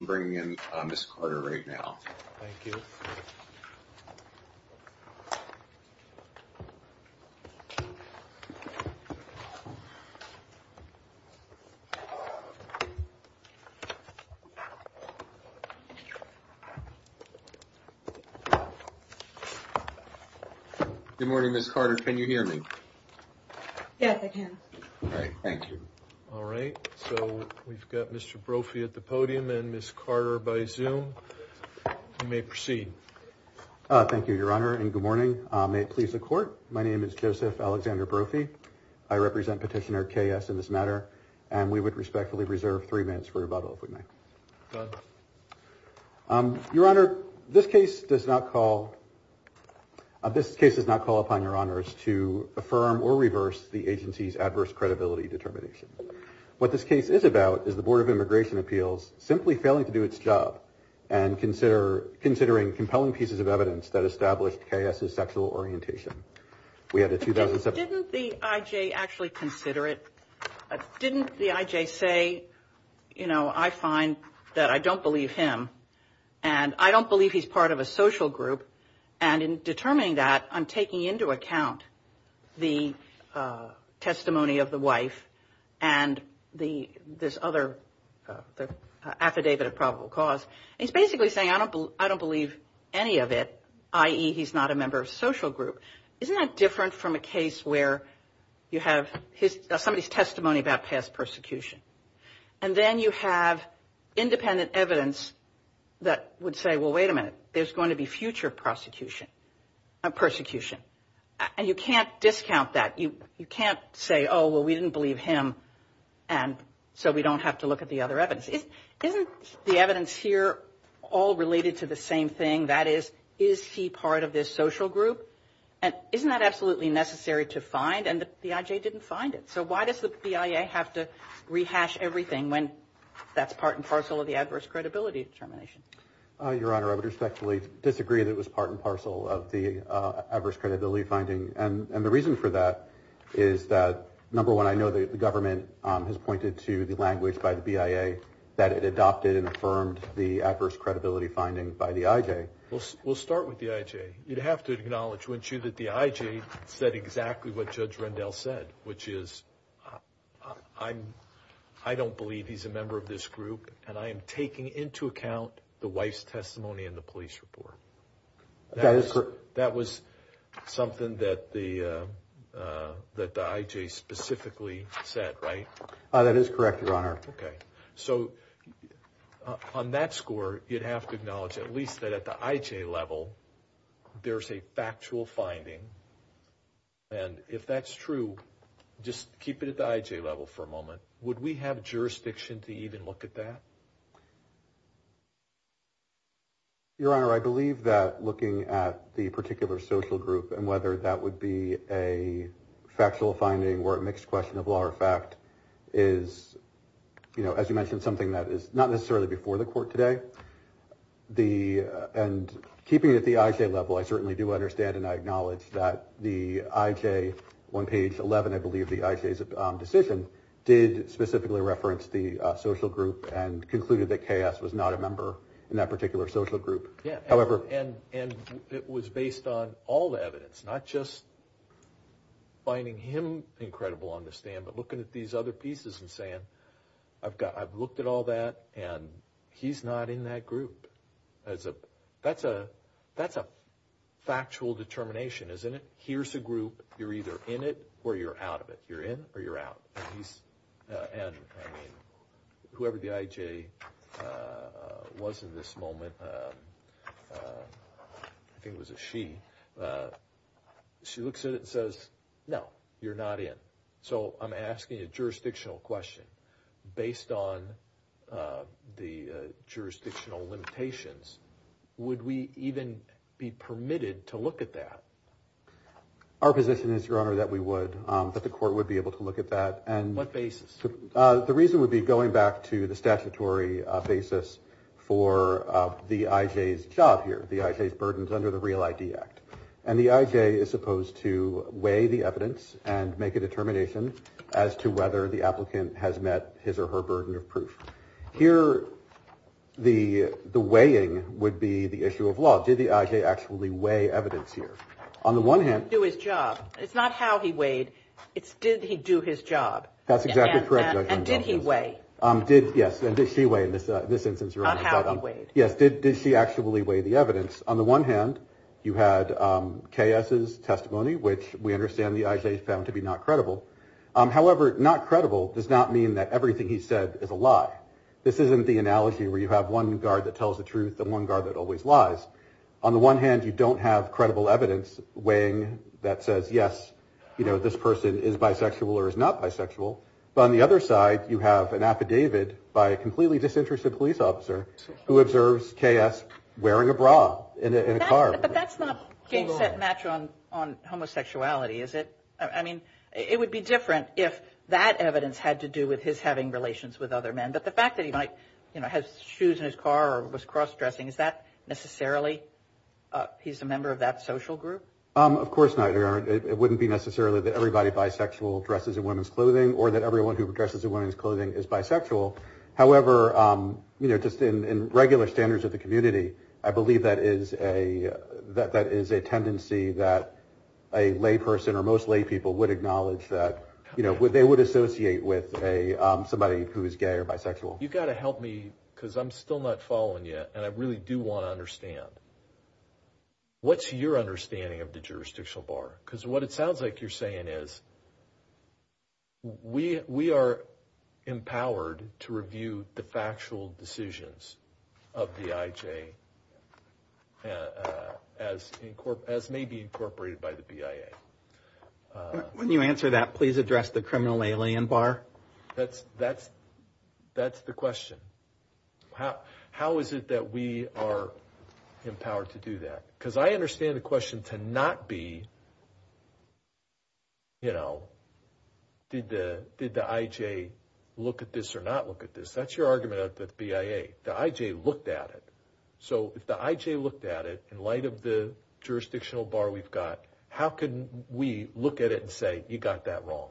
I'm bringing in Ms. Carter right now. Thank you. Good morning, Ms. Carter. Can you hear me? Yes, I can. Great. Thank you. All right. So we've got Mr. Brophy at the podium and Ms. Carter by Zoom. You may proceed. Thank you, Your Honor. And good morning. May it please the Court. My name is Joseph Alexander Brophy. I represent Petitioner K.S. in this matter. And we would respectfully reserve three minutes for rebuttal, if we may. Go ahead. Your Honor, this case does not call... This case does not call upon Your Honors to affirm or reverse the agency's adverse credibility determination. What this case is about is the Board of Immigration Appeals simply failing to do its job and considering compelling pieces of evidence that established K.S.'s sexual orientation. We had a 2007... Didn't the I.J. actually consider it? Didn't the I.J. say, you know, I find that I don't believe him and I don't believe he's part of a social group and in determining that I'm taking into account the testimony of the wife and this other affidavit of probable cause. He's basically saying I don't believe any of it, i.e., he's not a member of a social group. Isn't that different from a case where you have somebody's testimony about past persecution and then you have independent evidence that would say, well, wait a minute, there's going to be future persecution and you can't discount that. You can't say, oh, well, we didn't believe him and so we don't have to look at the other evidence. Isn't the evidence here all related to the same thing? That is, is he part of this social group? And isn't that absolutely necessary to find and the I.J. didn't find it. So why does the BIA have to rehash everything when that's part and parcel of the adverse credibility determination? Your Honor, I would respectfully disagree that it was part and parcel of the adverse credibility finding. And the reason for that is that, number one, I know the government has pointed to the language by the BIA that it adopted and affirmed the adverse credibility finding by the I.J. We'll start with the I.J. You'd have to acknowledge, wouldn't you, that the I.J. said exactly what Judge Rendell said, which is, I don't believe he's a member of this group and I am taking into account the wife's testimony in the police report. That is correct. That was something that the I.J. specifically said, right? That is correct, Your Honor. Okay. So on that score, you'd have to acknowledge at least that at the I.J. level, there's a factual finding. And if that's true, just keep it at the I.J. level for a moment, would we have jurisdiction to even look at that? Your Honor, I believe that looking at the particular social group and whether that would be a factual finding or a mixed question of law or fact is, you know, as you mentioned, something that is not necessarily before the court today. And keeping it at the I.J. level, I certainly do understand and I acknowledge that the I.J. on page 11, I believe the I.J.'s decision did specifically reference the social group and concluded that K.S. was not a member in that particular social group. And it was based on all the evidence, not just finding him incredible on the stand, but looking at these other pieces and saying, I've looked at all that and he's not in that group. That's a factual determination, isn't it? Here's a group. You're either in it or you're out of it. You're in or you're out. And whoever the I.J. was in this moment, I think it was a she, she looks at it and says, no, you're not in. So I'm asking a jurisdictional question based on the jurisdictional limitations. Would we even be permitted to look at that? Our position is, Your Honor, that we would, that the court would be able to look at that. And what basis? The reason would be going back to the statutory basis for the I.J.'s job here, the I.J.'s burdens under the Real ID Act. And the I.J. is supposed to weigh the evidence and make a determination as to whether the applicant has met his or her burden of proof. Here, the weighing would be the issue of law. Did the I.J. actually weigh evidence here? On the one hand. He didn't do his job. It's not how he weighed. It's did he do his job. That's exactly correct, Your Honor. And did he weigh? Yes. And did she weigh in this instance, Your Honor. On how he weighed. Yes. Did she actually weigh the evidence? On the one hand, you had K.S.'s testimony, which we understand the I.J. found to be not credible. However, not credible does not mean that everything he said is a lie. This isn't the analogy where you have one guard that tells the truth and one guard that always lies. On the one hand, you don't have credible evidence weighing that says, yes, you know, this person is bisexual or is not bisexual. But on the other side, you have an affidavit by a completely disinterested police officer who observes K.S. wearing a bra in a car. But that's not a match on homosexuality, is it? I mean, it would be different if that evidence had to do with his having relations with other men. But the fact that he might have shoes in his car or was cross-dressing, is that necessarily he's a member of that social group? Of course not, Your Honor. It wouldn't be necessarily that everybody bisexual dresses in women's clothing or that everyone who dresses in women's clothing is bisexual. However, you know, just in regular standards of the community, I believe that is a that that is a tendency that a lay person or most lay people would acknowledge that, you know, they would associate with a somebody who is gay or bisexual. You've got to help me because I'm still not following you. And I really do want to understand. What's your understanding of the jurisdictional bar? Because what it sounds like you're saying is. We we are empowered to review the factual decisions of the IJ. As as may be incorporated by the BIA. When you answer that, please address the criminal alien bar. That's that's that's the question. How is it that we are empowered to do that? Because I understand the question to not be. You know, did the did the IJ look at this or not look at this? That's your argument at the BIA. The IJ looked at it. So if the IJ looked at it in light of the jurisdictional bar we've got, how can we look at it and say you got that wrong?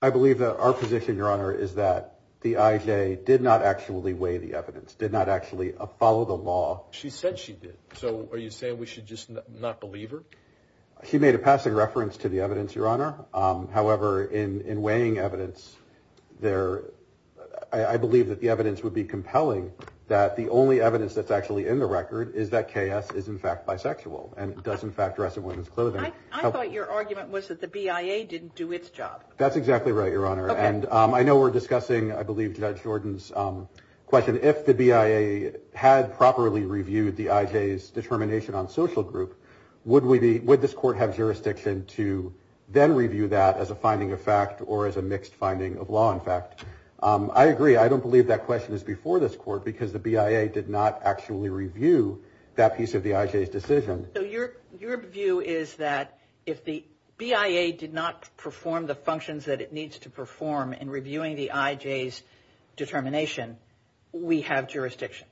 I believe that our position, Your Honor, is that the IJ did not actually weigh the evidence, did not actually follow the law. She said she did. So are you saying we should just not believe her? She made a passing reference to the evidence, Your Honor. However, in in weighing evidence there, I believe that the evidence would be compelling. That the only evidence that's actually in the record is that chaos is, in fact, bisexual and does, in fact, dress in women's clothing. I thought your argument was that the BIA didn't do its job. That's exactly right, Your Honor. And I know we're discussing, I believe, Judge Jordan's question. If the BIA had properly reviewed the IJ's determination on social group, would we be with this court have jurisdiction to then review that as a finding of fact or as a mixed finding of law? In fact, I agree. I don't believe that question is before this court because the BIA did not actually review that piece of the IJ's decision. So your your view is that if the BIA did not perform the functions that it needs to perform in reviewing the IJ's determination, we have jurisdiction.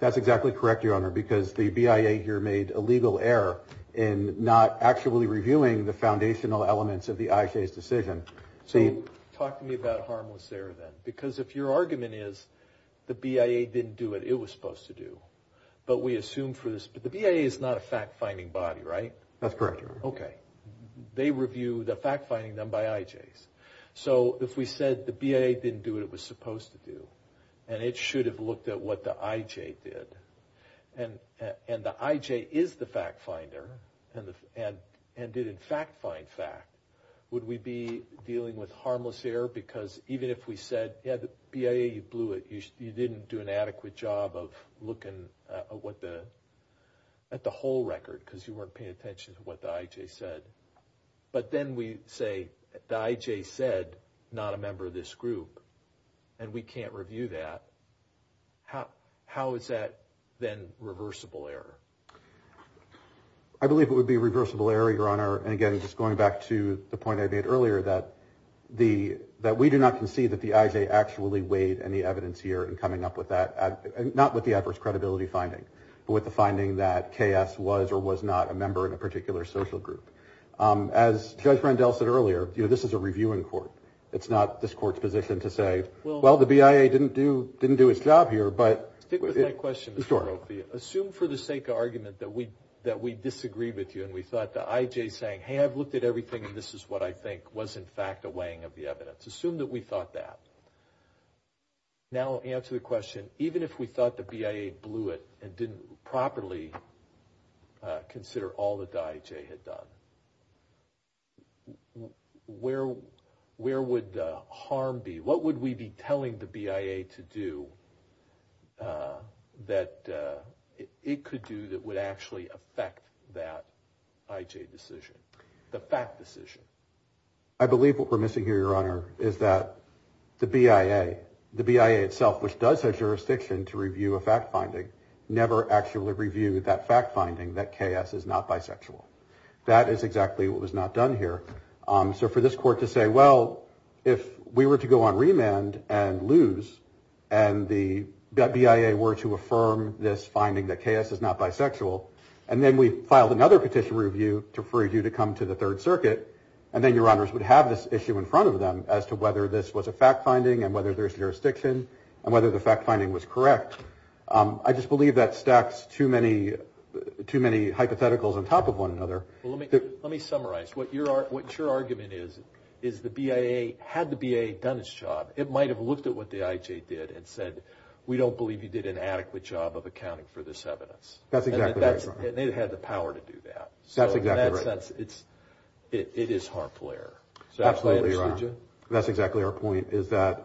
That's exactly correct, Your Honor, because the BIA here made a legal error in not actually reviewing the foundational elements of the IJ's decision. Talk to me about harmless error then, because if your argument is the BIA didn't do what it was supposed to do, but we assume for this, but the BIA is not a fact finding body, right? That's correct, Your Honor. Okay. They review the fact finding done by IJ's. So if we said the BIA didn't do what it was supposed to do and it should have looked at what the IJ did and the IJ is the fact finder and did, in fact, find fact, would we be dealing with harmless error? Because even if we said, yeah, the BIA blew it, you didn't do an adequate job of looking at the whole record because you weren't paying attention to what the IJ said. But then we say the IJ said not a member of this group and we can't review that. How is that then reversible error? I believe it would be reversible error, Your Honor. And again, just going back to the point I made earlier that we do not concede that the IJ actually weighed any evidence here in coming up with that, not with the adverse credibility finding, but with the finding that KS was or was not a member in a particular social group. As Judge Rendell said earlier, this is a reviewing court. It's not this court's position to say, well, the BIA didn't do its job here. Stick with my question, Mr. Rofia. Assume for the sake of argument that we disagree with you and we thought the IJ saying, hey, I've looked at everything and this is what I think was, in fact, a weighing of the evidence. Assume that we thought that. Now answer the question, even if we thought the BIA blew it and didn't properly consider all that the IJ had done, where would the harm be? What would we be telling the BIA to do that it could do that would actually affect that IJ decision, the fact decision? I believe what we're missing here, Your Honor, is that the BIA, the BIA itself, which does have jurisdiction to review a fact finding, never actually reviewed that fact finding that KS is not bisexual. That is exactly what was not done here. So for this court to say, well, if we were to go on remand and lose and the BIA were to affirm this finding that KS is not bisexual and then we filed another petition review for you to come to the Third Circuit and then Your Honors would have this issue in front of them as to whether this was a fact finding and whether there's jurisdiction and whether the fact finding was correct. I just believe that stacks too many hypotheticals on top of one another. Well, let me summarize. What your argument is, is the BIA, had the BIA done its job, it might have looked at what the IJ did and said, we don't believe you did an adequate job of accounting for this evidence. That's exactly right, Your Honor. And it had the power to do that. That's exactly right. So in that sense, it is harmful error. Absolutely, Your Honor. That's exactly our point, is that,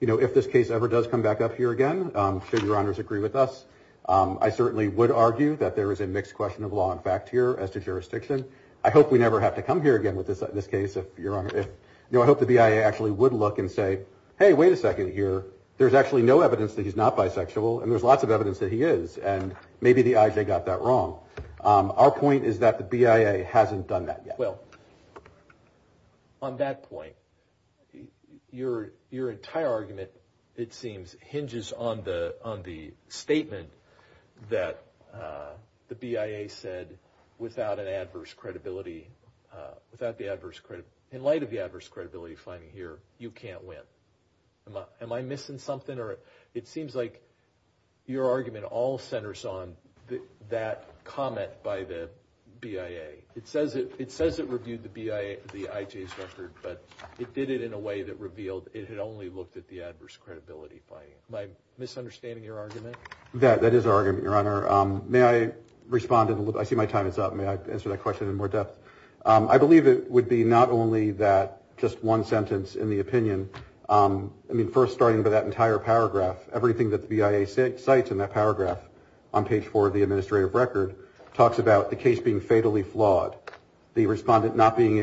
you know, if this case ever does come back up here again, I'm sure Your Honors agree with us. I certainly would argue that there is a mixed question of law and fact here as to jurisdiction. I hope we never have to come here again with this case, Your Honor. I hope the BIA actually would look and say, hey, wait a second here. There's actually no evidence that he's not bisexual and there's lots of evidence that he is and maybe the IJ got that wrong. Our point is that the BIA hasn't done that yet. Well, on that point, your entire argument, it seems, hinges on the statement that the BIA said, without an adverse credibility, in light of the adverse credibility finding here, you can't win. Am I missing something? It seems like your argument all centers on that comment by the BIA. It says it reviewed the IJ's record, but it did it in a way that revealed it had only looked at the adverse credibility finding. Am I misunderstanding your argument? That is our argument, Your Honor. May I respond? I see my time is up. May I answer that question in more depth? I believe it would be not only that just one sentence in the opinion. I mean, first, starting with that entire paragraph, everything that the BIA cites in that paragraph, on page four of the administrative record, talks about the case being fatally flawed. The respondent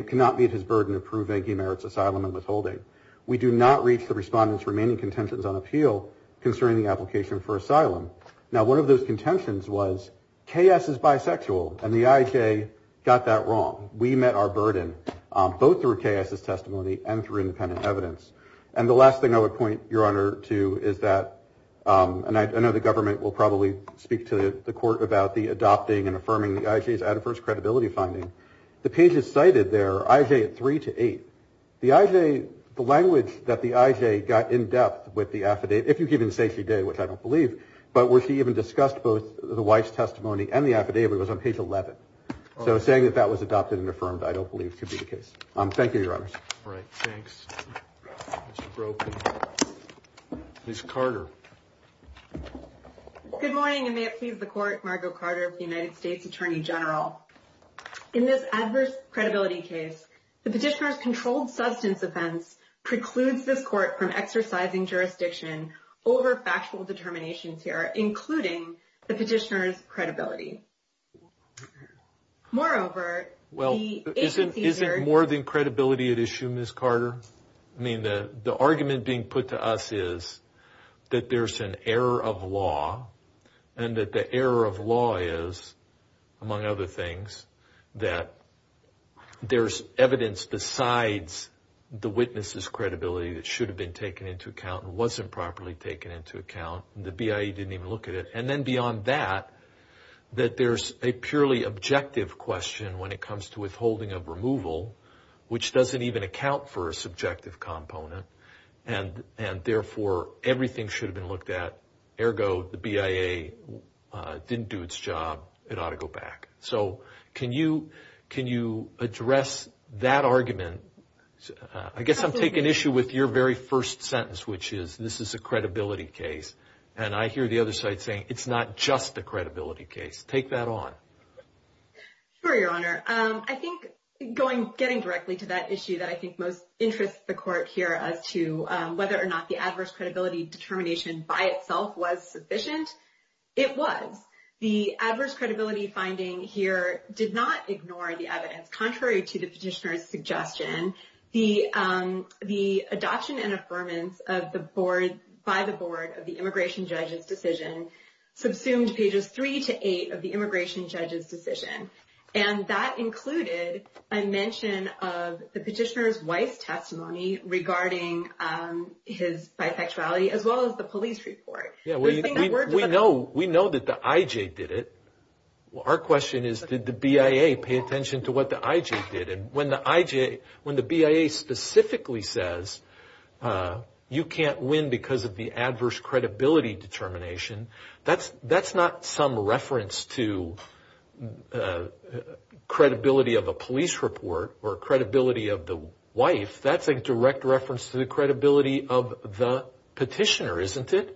cannot meet his burden of proving he merits asylum and withholding. We do not reach the respondent's remaining contentions on appeal concerning the application for asylum. Now, one of those contentions was KS is bisexual, and the IJ got that wrong. We met our burden, both through KS's testimony and through independent evidence. And the last thing I would point, Your Honor, to is that, and I know the government will probably speak to the court about the adopting and affirming the IJ's adverse credibility finding. The pages cited there, IJ at three to eight, the IJ, the language that the IJ got in depth with the affidavit, if you can even say she did, which I don't believe, but where she even discussed both the wife's testimony and the affidavit was on page 11. So saying that that was adopted and affirmed, I don't believe could be the case. Thank you, Your Honors. All right. Thanks. Ms. Carter. Good morning, and may it please the Court, Margo Carter of the United States Attorney General. In this adverse credibility case, the petitioner's controlled substance offense precludes this court from exercising jurisdiction Moreover, the agency... Well, isn't more than credibility at issue, Ms. Carter? I mean, the argument being put to us is that there's an error of law, and that the error of law is, among other things, that there's evidence besides the witness's credibility that should have been taken into account and wasn't properly taken into account. The BIA didn't even look at it. And then beyond that, that there's a purely objective question when it comes to withholding of removal, which doesn't even account for a subjective component, and therefore everything should have been looked at. Ergo, the BIA didn't do its job. It ought to go back. So can you address that argument? I guess I'm taking issue with your very first sentence, which is this is a credibility case. And I hear the other side saying it's not just a credibility case. Take that on. Sure, Your Honor. I think getting directly to that issue that I think most interests the Court here as to whether or not the adverse credibility determination by itself was sufficient, it was. The adverse credibility finding here did not ignore the evidence. Contrary to the petitioner's suggestion, the adoption and affirmance by the Board of the immigration judge's decision subsumed Pages 3 to 8 of the immigration judge's decision. And that included a mention of the petitioner's wife's testimony regarding his bifectuality as well as the police report. We know that the IJ did it. Our question is did the BIA pay attention to what the IJ did? And when the BIA specifically says you can't win because of the adverse credibility determination, that's not some reference to credibility of a police report or credibility of the wife. That's a direct reference to the credibility of the petitioner, isn't it?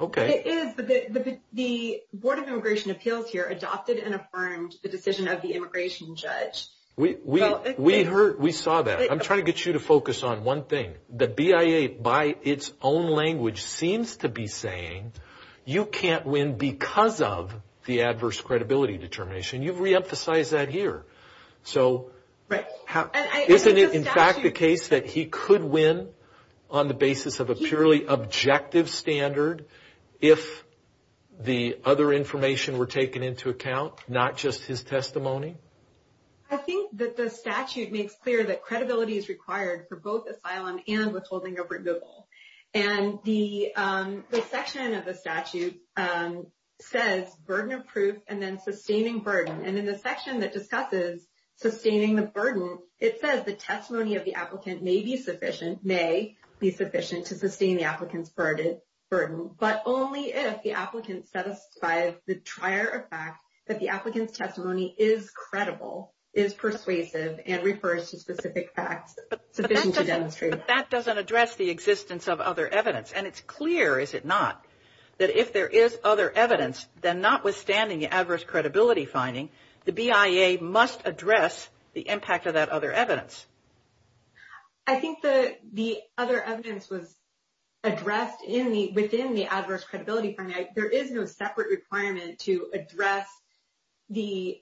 Okay. It is, but the Board of Immigration Appeals here adopted and affirmed the decision of the immigration judge. We saw that. I'm trying to get you to focus on one thing. The BIA by its own language seems to be saying you can't win because of the adverse credibility determination. You've reemphasized that here. Right. Isn't it, in fact, the case that he could win on the basis of a purely objective standard if the other information were taken into account, not just his testimony? I think that the statute makes clear that credibility is required for both asylum and withholding over Google. And the section of the statute says burden of proof and then sustaining burden. And in the section that discusses sustaining the burden, it says the testimony of the applicant may be sufficient to sustain the applicant's burden, but only if the applicant satisfies the trier of fact that the applicant's testimony is credible, is persuasive, and refers to specific facts sufficient to demonstrate that. But that doesn't address the existence of other evidence. And it's clear, is it not, that if there is other evidence, then notwithstanding the adverse credibility finding, the BIA must address the impact of that other evidence. I think the other evidence was addressed within the adverse credibility finding. There is no separate requirement to address this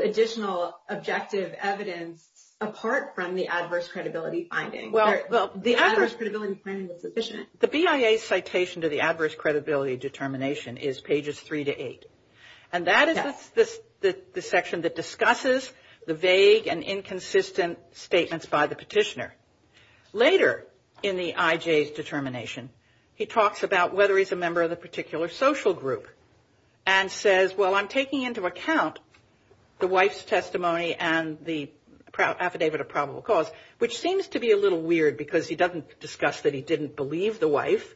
additional objective evidence apart from the adverse credibility finding. Well, the BIA's citation to the adverse credibility determination is pages 3 to 8. And that is the section that discusses the vague and inconsistent statements by the petitioner. Later in the IJ's determination, he talks about whether he's a member of the particular social group and says, well, I'm taking into account the wife's testimony and the affidavit of probable cause, which seems to be a little weird because he doesn't discuss that he didn't believe the wife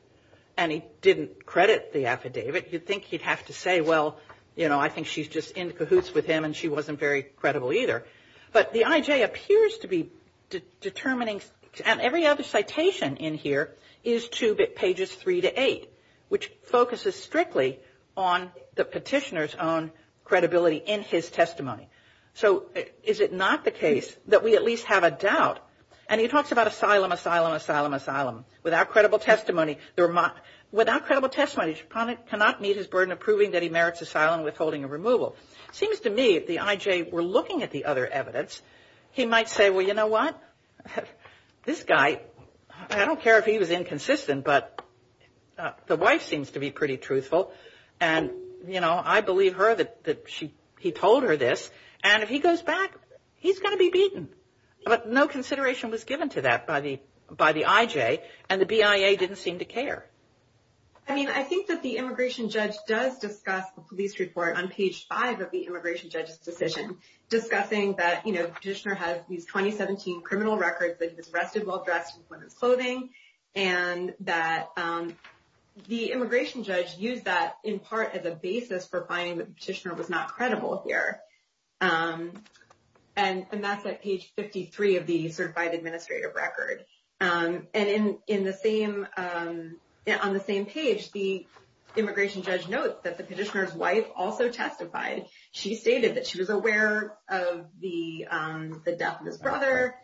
and he didn't credit the affidavit. You'd think he'd have to say, well, you know, I think she's just in cahoots with him and she wasn't very credible either. But the IJ appears to be determining, and every other citation in here is to pages 3 to 8, which focuses strictly on the petitioner's own credibility in his testimony. So is it not the case that we at least have a doubt? And he talks about asylum, asylum, asylum, asylum, without credible testimony. Without credible testimony, Sheponick cannot meet his burden of proving that he merits asylum and withholding a removal. It seems to me the IJ were looking at the other evidence. He might say, well, you know what? This guy, I don't care if he was inconsistent, but the wife seems to be pretty truthful. And, you know, I believe her that he told her this. And if he goes back, he's going to be beaten. But no consideration was given to that by the IJ, and the BIA didn't seem to care. I mean, I think that the immigration judge does discuss the police report on page 5 of the immigration judge's decision, discussing that, you know, petitioner has these 2017 criminal records that he was arrested while dressed in women's clothing and that the immigration judge used that in part as a basis for finding the petitioner was not credible here. And that's at page 53 of the certified administrative record. And in the same on the same page, the immigration judge notes that the petitioner's wife also testified. She stated that she was aware of the death of his brother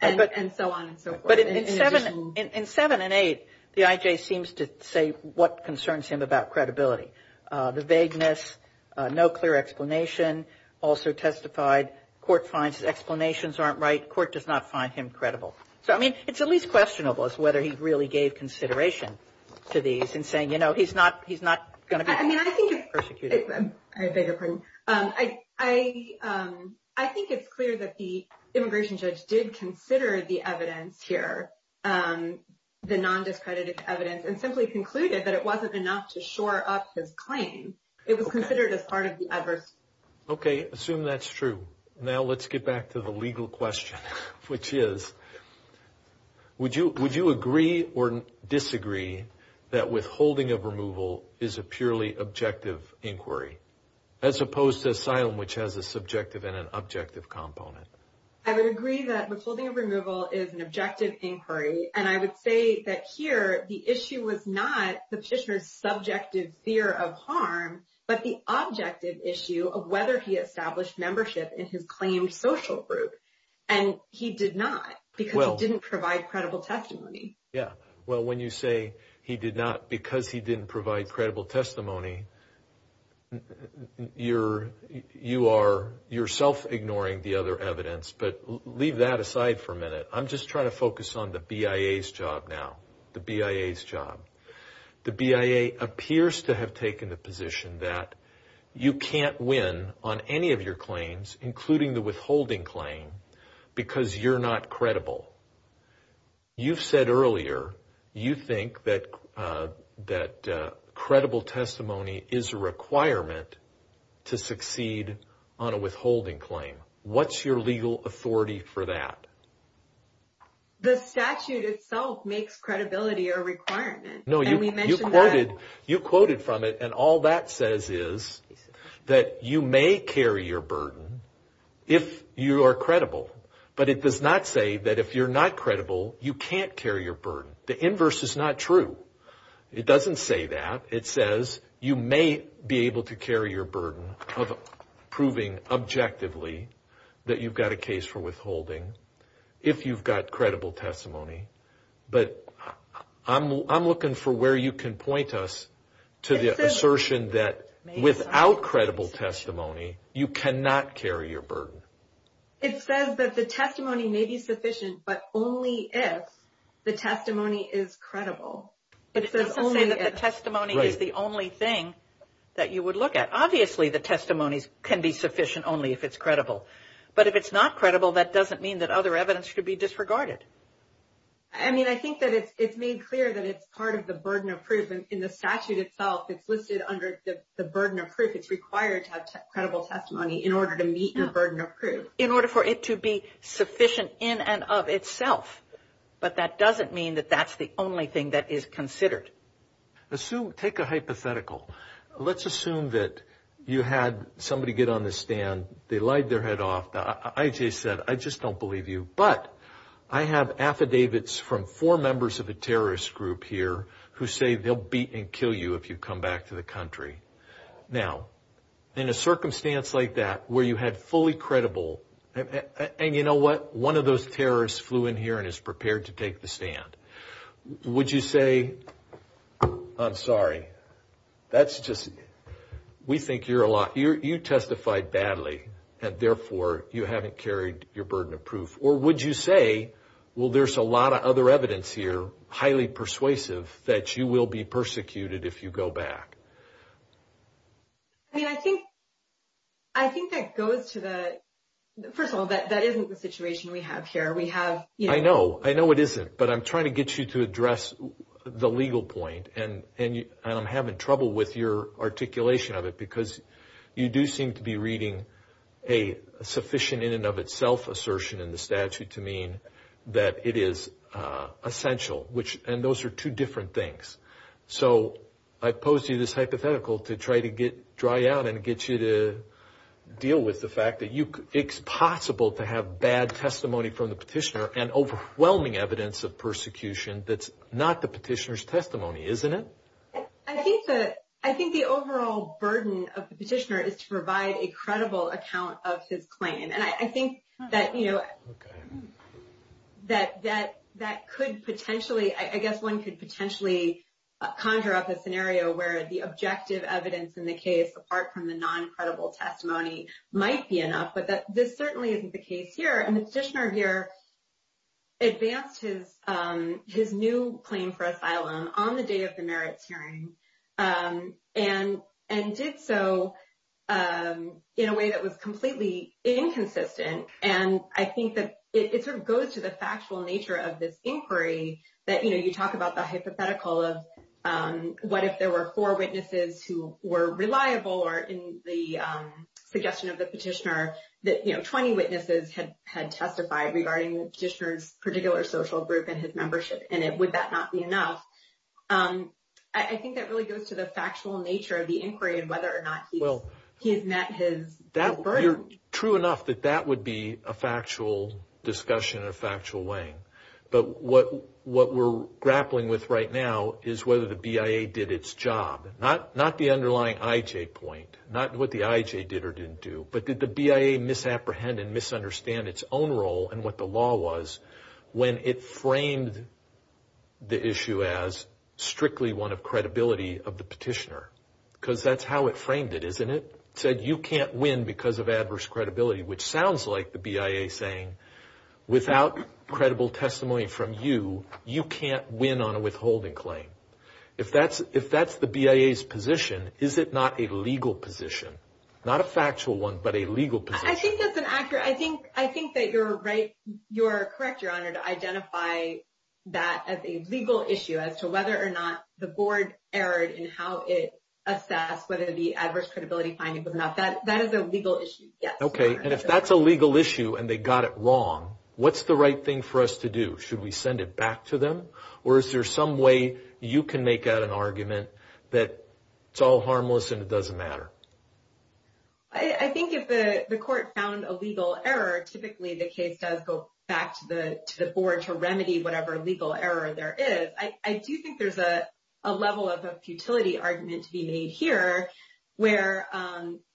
and so on and so forth. In 7 and 8, the IJ seems to say what concerns him about credibility. The vagueness, no clear explanation, also testified court finds explanations aren't right. Court does not find him credible. So, I mean, it's at least questionable as to whether he really gave consideration to these and saying, you know, he's not going to be persecuted. I beg your pardon. I think it's clear that the immigration judge did consider the evidence here, the non-discredited evidence, and simply concluded that it wasn't enough to shore up his claim. It was considered as part of the adverse. Okay, assume that's true. Now let's get back to the legal question, which is, Would you agree or disagree that withholding of removal is a purely objective inquiry, as opposed to asylum, which has a subjective and an objective component? I would agree that withholding of removal is an objective inquiry. And I would say that here the issue was not the petitioner's subjective fear of harm, but the objective issue of whether he established membership in his claimed social group. And he did not, because he didn't provide credible testimony. Yeah, well, when you say he did not because he didn't provide credible testimony, you are yourself ignoring the other evidence. But leave that aside for a minute. I'm just trying to focus on the BIA's job now, the BIA's job. The BIA appears to have taken the position that you can't win on any of your claims, including the withholding claim, because you're not credible. You've said earlier you think that credible testimony is a requirement to succeed on a withholding claim. What's your legal authority for that? The statute itself makes credibility a requirement. No, you quoted from it, and all that says is that you may carry your burden if you are credible. But it does not say that if you're not credible, you can't carry your burden. The inverse is not true. It doesn't say that. It says you may be able to carry your burden of proving objectively that you've got a case for withholding, if you've got credible testimony. But I'm looking for where you can point us to the assertion that without credible testimony, you cannot carry your burden. It says that the testimony may be sufficient, but only if the testimony is credible. It doesn't say that the testimony is the only thing that you would look at. Obviously, the testimony can be sufficient only if it's credible. But if it's not credible, that doesn't mean that other evidence should be disregarded. I mean, I think that it's made clear that it's part of the burden of proof. In the statute itself, it's listed under the burden of proof. It's required to have credible testimony in order to meet your burden of proof. In order for it to be sufficient in and of itself. But that doesn't mean that that's the only thing that is considered. Assume, take a hypothetical. Let's assume that you had somebody get on the stand, they lied their head off, the IJ said, I just don't believe you, but I have affidavits from four members of a terrorist group here who say they'll beat and kill you if you come back to the country. Now, in a circumstance like that, where you had fully credible, and you know what? One of those terrorists flew in here and is prepared to take the stand. Would you say, I'm sorry, that's just, we think you're a liar. You testified badly, and therefore, you haven't carried your burden of proof. Or would you say, well, there's a lot of other evidence here, highly persuasive, that you will be persecuted if you go back? I mean, I think that goes to the, first of all, that isn't the situation we have here. I know, I know it isn't, but I'm trying to get you to address the legal point, and I'm having trouble with your articulation of it, because you do seem to be reading a sufficient in and of itself assertion in the statute to mean that it is essential, and those are two different things. So I pose to you this hypothetical to try to dry out and get you to deal with the fact that it's possible to have bad testimony from the petitioner and overwhelming evidence of persecution that's not the petitioner's testimony, isn't it? I think the overall burden of the petitioner is to provide a credible account of his claim. And I think that could potentially, I guess one could potentially conjure up a scenario where the objective evidence in the case, apart from the non-credible testimony, might be enough, but this certainly isn't the case here. And the petitioner here advanced his new claim for asylum on the day of the merits hearing and did so in a way that was completely inconsistent. And I think that it sort of goes to the factual nature of this inquiry that, you know, you talk about the hypothetical of what if there were four witnesses who were reliable or in the suggestion of the petitioner that, you know, 20 witnesses had testified regarding the petitioner's particular social group and his membership, and would that not be enough? I think that really goes to the factual nature of the inquiry and whether or not he has met his burden. True enough that that would be a factual discussion in a factual way. But what we're grappling with right now is whether the BIA did its job, not the underlying IJ point, not what the IJ did or didn't do, but did the BIA misapprehend and misunderstand its own role and what the law was when it framed the issue as strictly one of credibility of the petitioner? Because that's how it framed it, isn't it? It said you can't win because of adverse credibility, which sounds like the BIA saying without credible testimony from you, you can't win on a withholding claim. If that's the BIA's position, is it not a legal position? Not a factual one, but a legal position. I think that's an accurate – I think that you're correct, Your Honor, to identify that as a legal issue as to whether or not the board erred in how it assessed whether the adverse credibility finding was enough. That is a legal issue, yes. Okay, and if that's a legal issue and they got it wrong, what's the right thing for us to do? Should we send it back to them? Or is there some way you can make out an argument that it's all harmless and it doesn't matter? I think if the court found a legal error, typically the case does go back to the board to remedy whatever legal error there is. I do think there's a level of a futility argument to be made here, where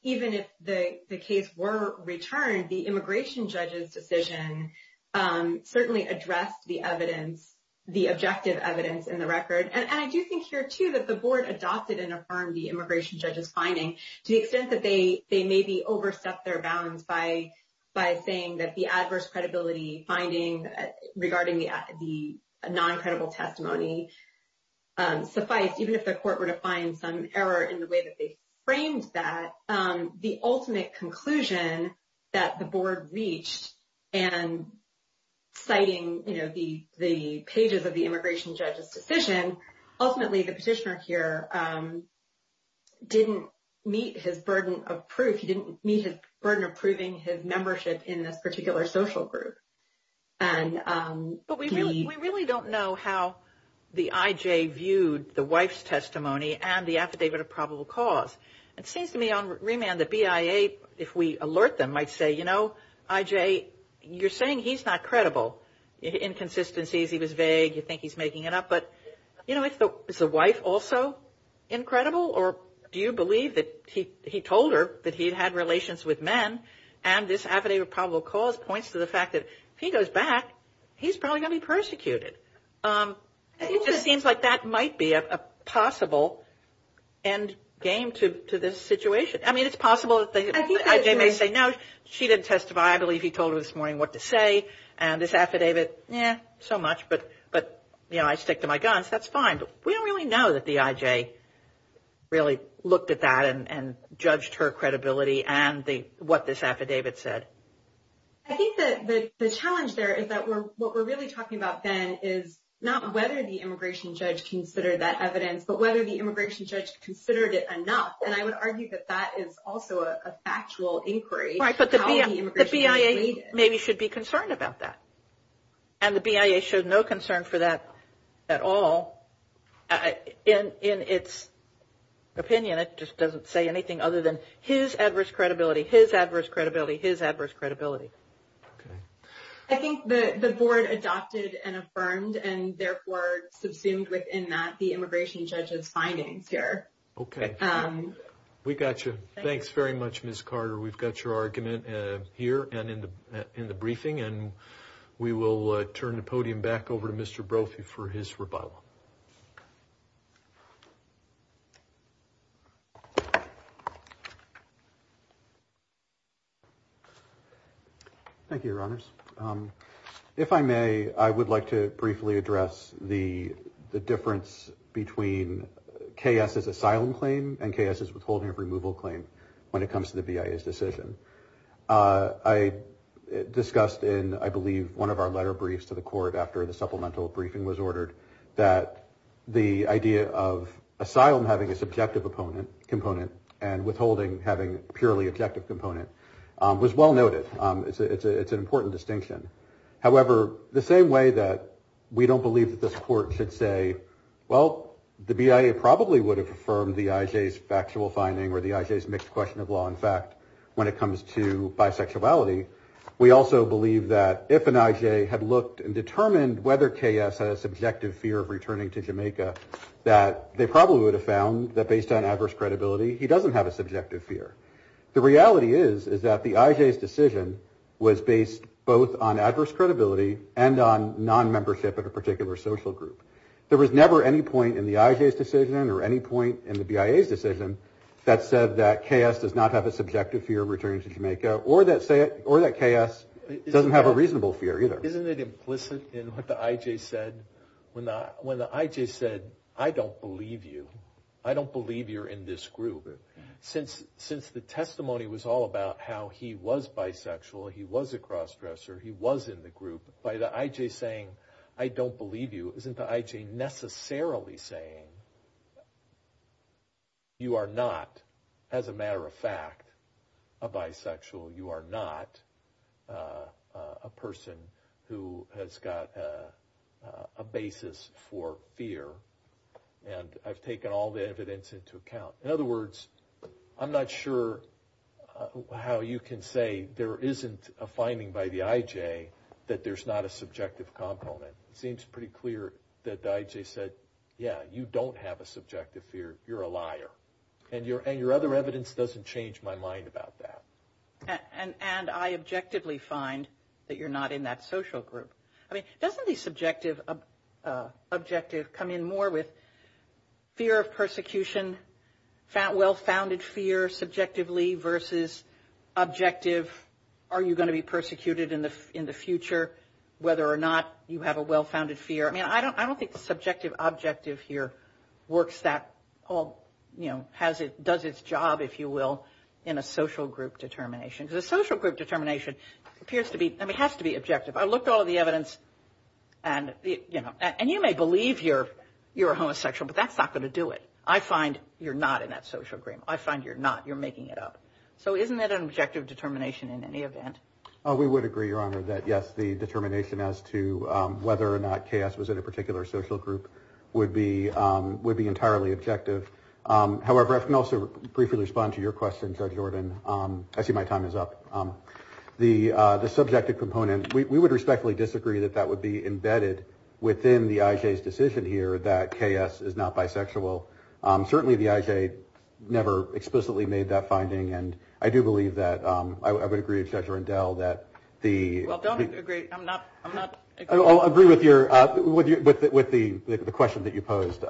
even if the case were returned, the immigration judge's decision certainly addressed the evidence, the objective evidence in the record. And I do think here, too, that the board adopted and affirmed the immigration judge's finding to the extent that they maybe overstepped their bounds by saying that the adverse credibility finding regarding the non-credible testimony sufficed, even if the court were to find some error in the way that they framed that. The ultimate conclusion that the board reached in citing the pages of the immigration judge's decision, ultimately the petitioner here didn't meet his burden of proof. He didn't meet his burden of proving his membership in this particular social group. But we really don't know how the IJ viewed the wife's testimony and the affidavit of probable cause. It seems to me on remand that BIA, if we alert them, might say, you know, IJ, you're saying he's not credible, inconsistencies, he was vague, you think he's making it up. But, you know, is the wife also incredible, or do you believe that he told her that he had had relations with men and this affidavit of probable cause points to the fact that if he goes back, he's probably going to be persecuted. It just seems like that might be a possible end game to this situation. I mean, it's possible that the IJ may say, no, she didn't testify, I believe he told her this morning what to say, and this affidavit, eh, so much, but, you know, I stick to my guns, that's fine. But we don't really know that the IJ really looked at that and judged her credibility and what this affidavit said. I think that the challenge there is that what we're really talking about then is not whether the immigration judge considered that evidence, but whether the immigration judge considered it enough. And I would argue that that is also a factual inquiry. Right, but the BIA maybe should be concerned about that. And the BIA showed no concern for that at all. In its opinion, it just doesn't say anything other than his adverse credibility, his adverse credibility, his adverse credibility. Okay. I think that the board adopted and affirmed and therefore subsumed within that the immigration judge's findings here. Okay. We got you. Thanks very much, Ms. Carter. We've got your argument here and in the briefing, and we will turn the podium back over to Mr. Brophy for his rebuttal. Thank you, Your Honors. If I may, I would like to briefly address the difference between K.S.'s asylum claim and K.S.'s withholding of removal claim when it comes to the BIA's decision. I discussed in, I believe, one of our letter briefs to the court after the supplemental briefing was ordered, that the idea of asylum having a subjective component and withholding having a purely objective component was well noted. It's an important distinction. However, the same way that we don't believe that this court should say, well, the BIA probably would have affirmed the IJ's factual finding or the IJ's mixed question of law and fact when it comes to bisexuality, we also believe that if an IJ had looked and determined whether K.S. had a subjective fear of returning to Jamaica, that they probably would have found that based on adverse credibility, he doesn't have a subjective fear. The reality is, is that the IJ's decision was based both on adverse credibility and on non-membership of a particular social group. There was never any point in the IJ's decision or any point in the BIA's decision that said that K.S. does not have a subjective fear of returning to Jamaica or that K.S. doesn't have a reasonable fear either. Isn't it implicit in what the IJ said? When the IJ said, I don't believe you, I don't believe you're in this group, since the testimony was all about how he was bisexual, he was a cross-dresser, he was in the group, by the IJ saying, I don't believe you, isn't the IJ necessarily saying, you are not, as a matter of fact, a bisexual, you are not a person who has got a basis for fear, and I've taken all the evidence into account. In other words, I'm not sure how you can say there isn't a finding by the IJ that there's not a subjective component. It seems pretty clear that the IJ said, yeah, you don't have a subjective fear, you're a liar, and your other evidence doesn't change my mind about that. And I objectively find that you're not in that social group. I mean, doesn't the subjective objective come in more with fear of persecution, well-founded fear subjectively versus objective, are you going to be persecuted in the future, whether or not you have a well-founded fear? I mean, I don't think the subjective objective here works that, you know, does its job, if you will, in a social group determination. Because a social group determination appears to be, I mean, it has to be objective. I looked at all the evidence, and, you know, and you may believe you're a homosexual, but that's not going to do it. I find you're not in that social group. I find you're not. You're making it up. So isn't that an objective determination in any event? We would agree, Your Honor, that, yes, the determination as to whether or not KS was in a particular social group would be entirely objective. However, I can also briefly respond to your question, Judge Jordan. I see my time is up. The subjective component, we would respectfully disagree that that would be embedded within the IJ's decision here that KS is not bisexual. Certainly the IJ never explicitly made that finding, and I do believe that I would agree with Judge Rendell that the – Well, don't agree. I'm not – I'm not – I'll agree with your – with the question that you posed,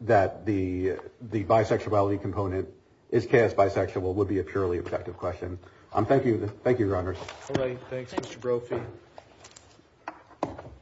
that the bisexuality component, is KS bisexual, would be a purely objective question. Thank you. Thank you, Your Honors. All right. Thanks, Mr. Brophy.